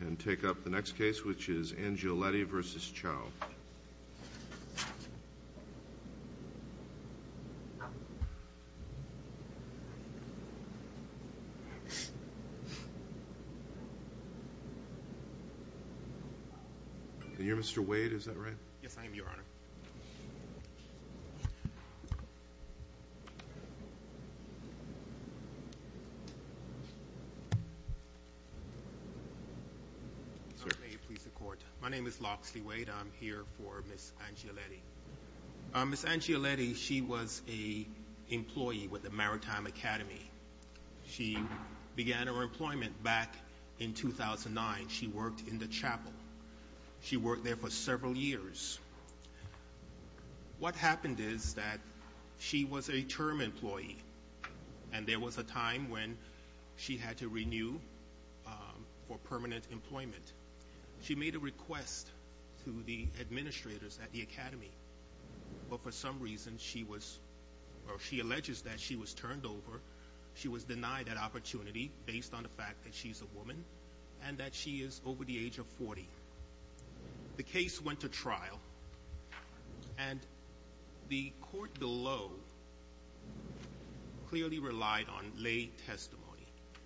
And take up the next case, which is Angioletti v. Chao. You're Mr. Wade, is that right? Yes, I am, Your Honor. My name is Loxley Wade. I'm here for Ms. Angioletti. Ms. Angioletti, she was an employee with the Maritime Academy. She began her employment back in 2009. She worked in the chapel. She worked there for several years. What happened is that she was a term employee, and there was a time when she had to renew for permanent employment. She made a request to the administrators at the academy, but for some reason she was, or she alleges that she was turned over. She was denied that opportunity based on the fact that she's a woman and that she is over the age of 40. The case went to trial, and the court below clearly relied on lay testimony.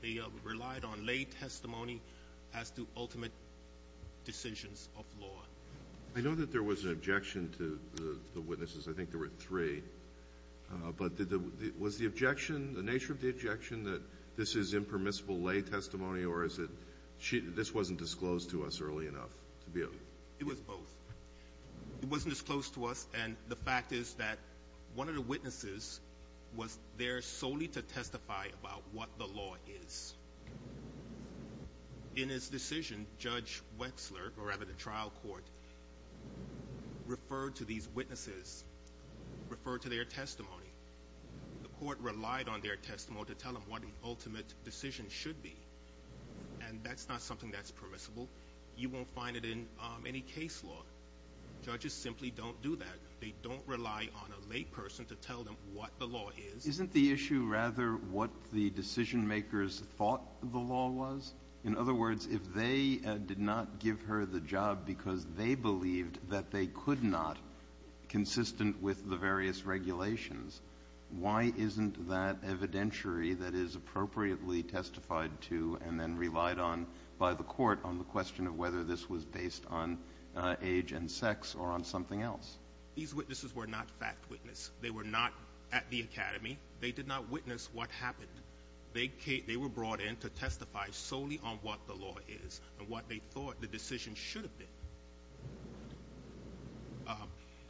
They relied on lay testimony as to ultimate decisions of law. I know that there was an objection to the witnesses. I think there were three. But was the objection, the nature of the objection, that this is impermissible lay testimony, or is it this wasn't disclosed to us early enough? It was both. It wasn't disclosed to us, and the fact is that one of the witnesses was there solely to testify about what the law is. In his decision, Judge Wexler, or rather the trial court, referred to these witnesses, referred to their testimony. The court relied on their testimony to tell them what the ultimate decision should be, and that's not something that's permissible. You won't find it in any case law. Judges simply don't do that. They don't rely on a lay person to tell them what the law is. Isn't the issue rather what the decision makers thought the law was? In other words, if they did not give her the job because they believed that they could not, consistent with the various regulations, why isn't that evidentiary that is appropriately testified to and then relied on by the court on the question of whether this was based on age and sex or on something else? These witnesses were not fact witness. They were not at the academy. They did not witness what happened. They were brought in to testify solely on what the law is and what they thought the decision should have been.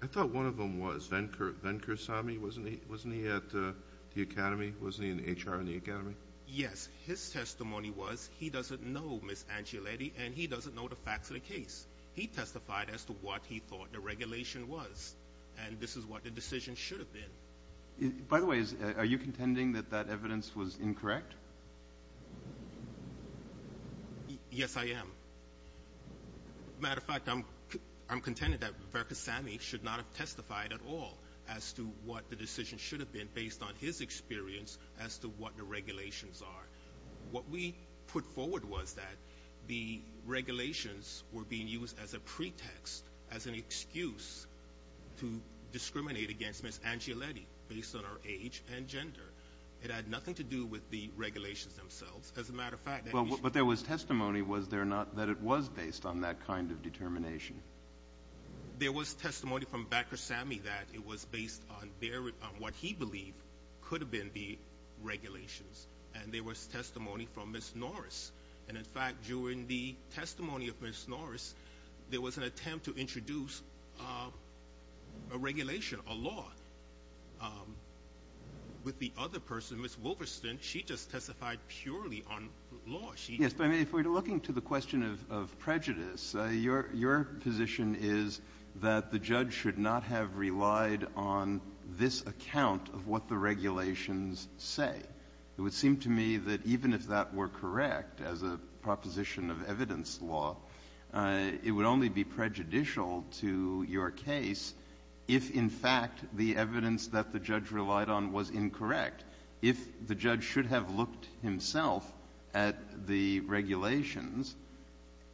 I thought one of them was Venkursami. Wasn't he at the academy? Wasn't he in HR in the academy? Yes. Because his testimony was he doesn't know Ms. Angioletti, and he doesn't know the facts of the case. He testified as to what he thought the regulation was, and this is what the decision should have been. By the way, are you contending that that evidence was incorrect? Yes, I am. Matter of fact, I'm contending that Venkursami should not have testified at all as to what the decision should have been based on his experience as to what the regulations are. What we put forward was that the regulations were being used as a pretext, as an excuse to discriminate against Ms. Angioletti based on her age and gender. It had nothing to do with the regulations themselves. As a matter of fact, that was the case. But there was testimony, was there not, that it was based on that kind of determination? There was testimony from Venkursami that it was based on what he believed could have been the regulations. And there was testimony from Ms. Norris. And, in fact, during the testimony of Ms. Norris, there was an attempt to introduce a regulation, a law. With the other person, Ms. Wolverston, she just testified purely on law. Breyer. Yes. But if we're looking to the question of prejudice, your position is that the judge should not have relied on this account of what the regulations say. It would seem to me that even if that were correct as a proposition of evidence law, it would only be prejudicial to your case if, in fact, the evidence that the judge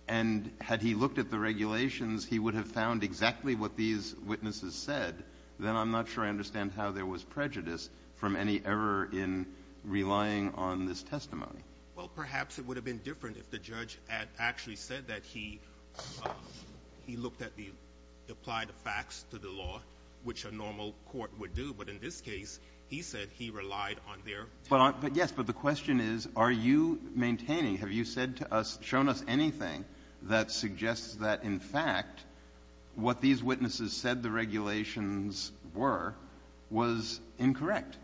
And had he looked at the regulations, he would have found exactly what these witnesses said, then I'm not sure I understand how there was prejudice from any error in relying on this testimony. Well, perhaps it would have been different if the judge had actually said that he looked at the applied facts to the law, which a normal court would do. But in this case, he said he relied on their testimony. But yes, but the question is, are you maintaining, have you said to us, shown us anything that suggests that, in fact, what these witnesses said the regulations were was incorrect?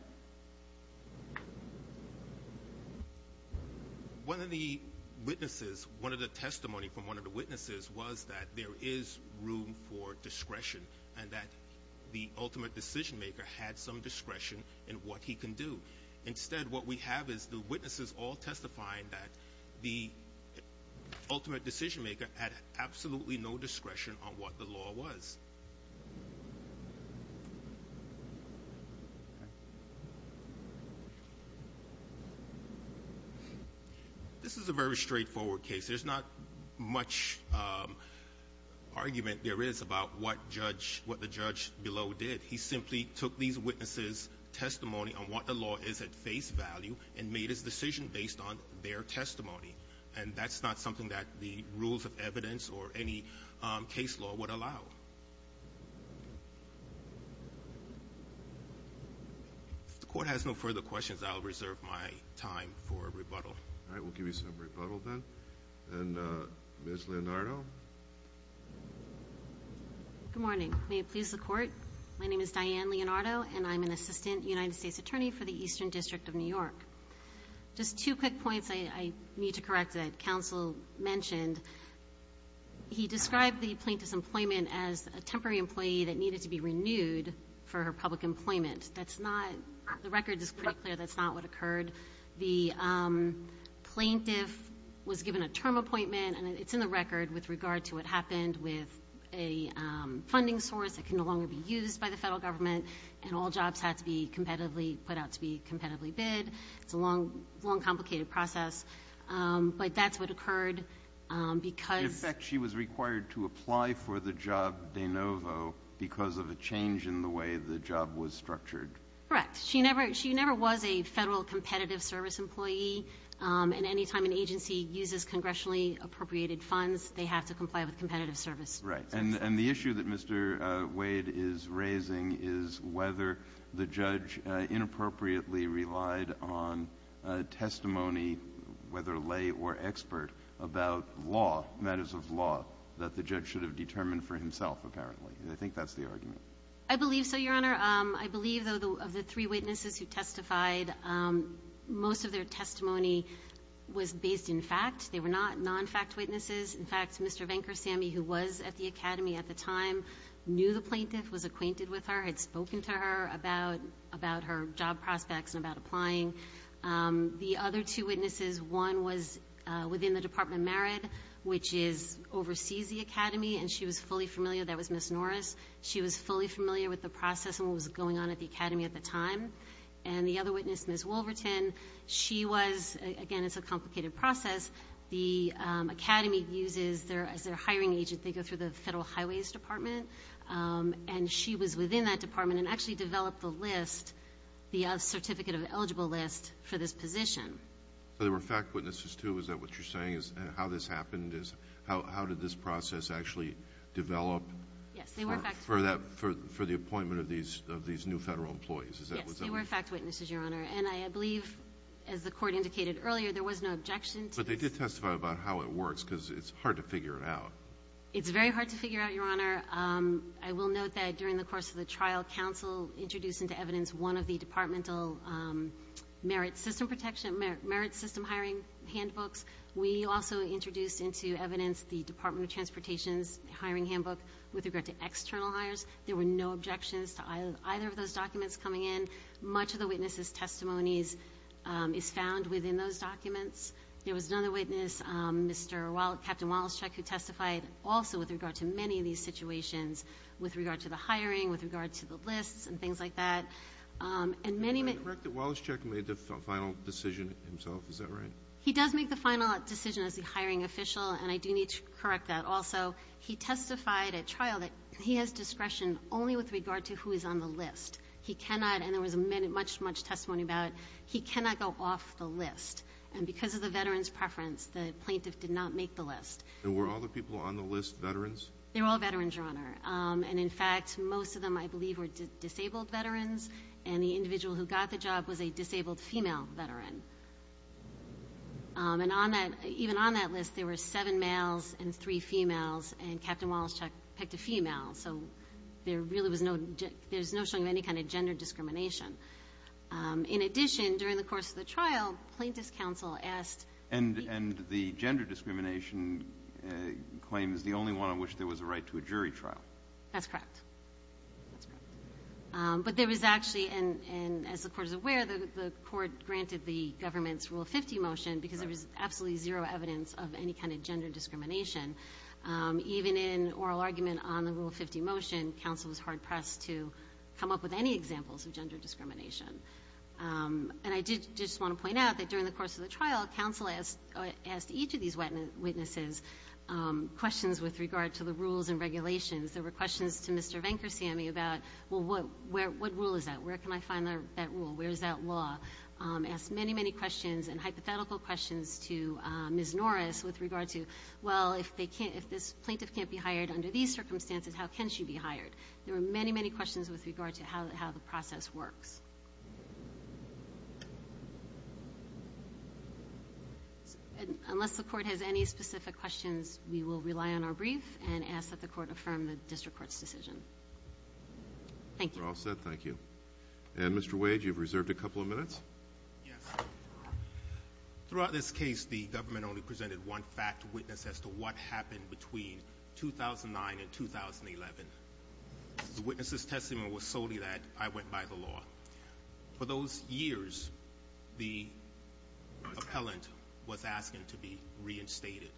One of the witnesses, one of the testimony from one of the witnesses was that there is room for discretion and that the ultimate decision-maker had some discretion in what he can do. Instead, what we have is the witnesses all testifying that the ultimate decision-maker had absolutely no discretion on what the law was. This is a very straightforward case. There's not much argument there is about what the judge below did. He simply took these witnesses' testimony on what the law is at face value and made his decision based on their testimony. And that's not something that the rules of evidence or any case law would allow. If the court has no further questions, I'll reserve my time for rebuttal. All right. We'll give you some rebuttal then. And Ms. Leonardo. Good morning. May it please the Court. My name is Diane Leonardo, and I'm an assistant United States attorney for the Eastern District of New York. Just two quick points I need to correct that Counsel mentioned. He described the plaintiff's employment as a temporary employee that needed to be renewed for her public employment. That's not the record is pretty clear that's not what occurred. The plaintiff was given a term appointment, and it's in the record with regard to what happened with a funding source that can no longer be used by the Federal Government, and all jobs had to be competitively put out to be competitively bid. It's a long, complicated process. But that's what occurred because of the change in the way the job was structured. Correct. She never was a Federal competitive service employee. And any time an agency uses congressionally appropriated funds, they have to comply with competitive service. Right. And the issue that Mr. Wade is raising is whether the judge inappropriately relied on testimony, whether lay or expert, about law, matters of law, that the judge should have determined for himself, apparently. I think that's the argument. I believe so, Your Honor. Your Honor, I believe, though, of the three witnesses who testified, most of their testimony was based in fact. They were not non-fact witnesses. In fact, Mr. Venkersamy, who was at the Academy at the time, knew the plaintiff, was acquainted with her, had spoken to her about her job prospects and about applying. The other two witnesses, one was within the Department of Merit, which is overseas the Academy, and she was fully familiar. That was Ms. Norris. She was fully familiar with the process and what was going on at the Academy at the time. And the other witness, Ms. Wolverton, she was — again, it's a complicated process. The Academy uses their — as their hiring agent, they go through the Federal Highways Department. And she was within that department and actually developed the list, the certificate of eligible list, for this position. So they were fact witnesses, too? Is that what you're saying is — and how this happened is — how did this process actually develop? Yes, they were fact — For that — for the appointment of these new Federal employees. Is that what you're saying? Yes, they were fact witnesses, Your Honor. And I believe, as the Court indicated earlier, there was no objection to this. But they did testify about how it works, because it's hard to figure it out. It's very hard to figure out, Your Honor. I will note that during the course of the trial, counsel introduced into evidence one of the departmental merit system protection — merit system hiring handbooks. We also introduced into evidence the Department of Transportation's hiring handbook with regard to external hires. There were no objections to either of those documents coming in. Much of the witness's testimonies is found within those documents. There was another witness, Mr. — Captain Walaszczuk, who testified also with regard to many of these situations with regard to the hiring, with regard to the lists and things like that. And many — Did I correct that Walaszczuk made the final decision himself? Is that right? He does make the final decision as the hiring official, and I do need to correct that also. He testified at trial that he has discretion only with regard to who is on the list. He cannot — and there was much, much testimony about it — he cannot go off the list. And because of the veteran's preference, the plaintiff did not make the list. And were all the people on the list veterans? They were all veterans, Your Honor. And in fact, most of them, I believe, were disabled veterans, and the individual who got the job was a disabled female veteran. And on that — even on that list, there were seven males and three females, and Captain Walaszczuk picked a female. So there really was no — there's no showing of any kind of gender discrimination. In addition, during the course of the trial, Plaintiff's counsel asked — And the gender discrimination claim is the only one on which there was a right to a jury trial. That's correct. That's correct. But there was actually — and as the Court is aware, the Court granted the government's Rule 50 motion because there was absolutely zero evidence of any kind of gender discrimination. Even in oral argument on the Rule 50 motion, counsel was hard-pressed to come up with any examples of gender discrimination. And I did just want to point out that during the course of the trial, counsel asked each of these witnesses questions with regard to the rules and regulations. There were questions to Mr. Venkersamy about, well, what — what rule is that? Where can I find that rule? Where is that law? Asked many, many questions and hypothetical questions to Ms. Norris with regard to, well, if they can't — if this plaintiff can't be hired under these circumstances, how can she be hired? There were many, many questions with regard to how the process works. Unless the Court has any specific questions, we will rely on our brief and ask that the Court affirm the district court's decision. Thank you. You're all set. Thank you. And, Mr. Wade, you've reserved a couple of minutes. Yes. Throughout this case, the government only presented one fact witness as to what happened between 2009 and 2011. The witness's testimony was solely that I went by the law. For those years, the appellant was asking to be reinstated.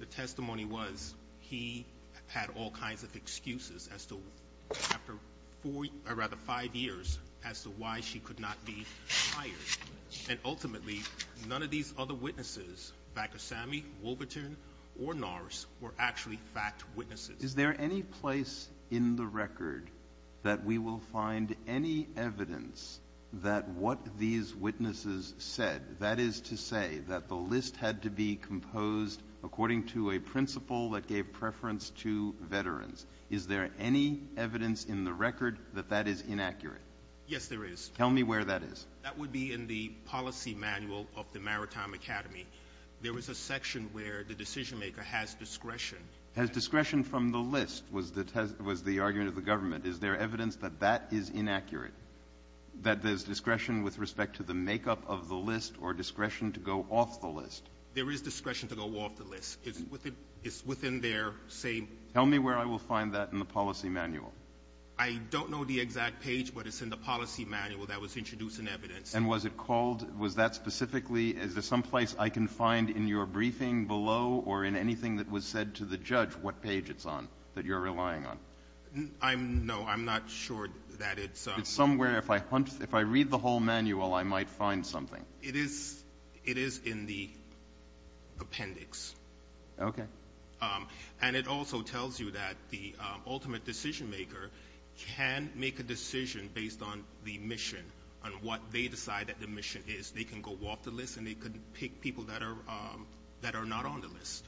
The testimony was he had all kinds of excuses as to — after four — or, rather, five years, as to why she could not be hired. And ultimately, none of these other witnesses, Vakosamy, Woolverton, or Norris, were actually fact witnesses. Is there any place in the record that we will find any evidence that what these witnesses said, that is to say that the list had to be composed according to a principle that gave preference to veterans? Is there any evidence in the record that that is inaccurate? Yes, there is. Tell me where that is. That would be in the policy manual of the Maritime Academy. There was a section where the decisionmaker has discretion. Has discretion from the list, was the argument of the government. Is there evidence that that is inaccurate, that there's discretion with respect to the makeup of the list or discretion to go off the list? There is discretion to go off the list. It's within their same — Tell me where I will find that in the policy manual. I don't know the exact page, but it's in the policy manual that was introduced in evidence. And was it called — was that specifically — is there some place I can find in your briefing below or in anything that was said to the judge what page it's on, that I'm — no, I'm not sure that it's — It's somewhere — if I read the whole manual, I might find something. It is — it is in the appendix. Okay. And it also tells you that the ultimate decisionmaker can make a decision based on the mission, on what they decide that the mission is. They can go off the list and they can pick people that are — that are not on the list.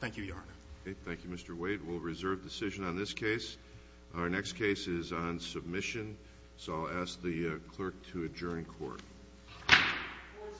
Thank you, Your Honor. Okay. Thank you, Mr. Waite. We'll reserve decision on this case. Our next case is on submission, so I'll ask the clerk to adjourn court. Court is adjourned.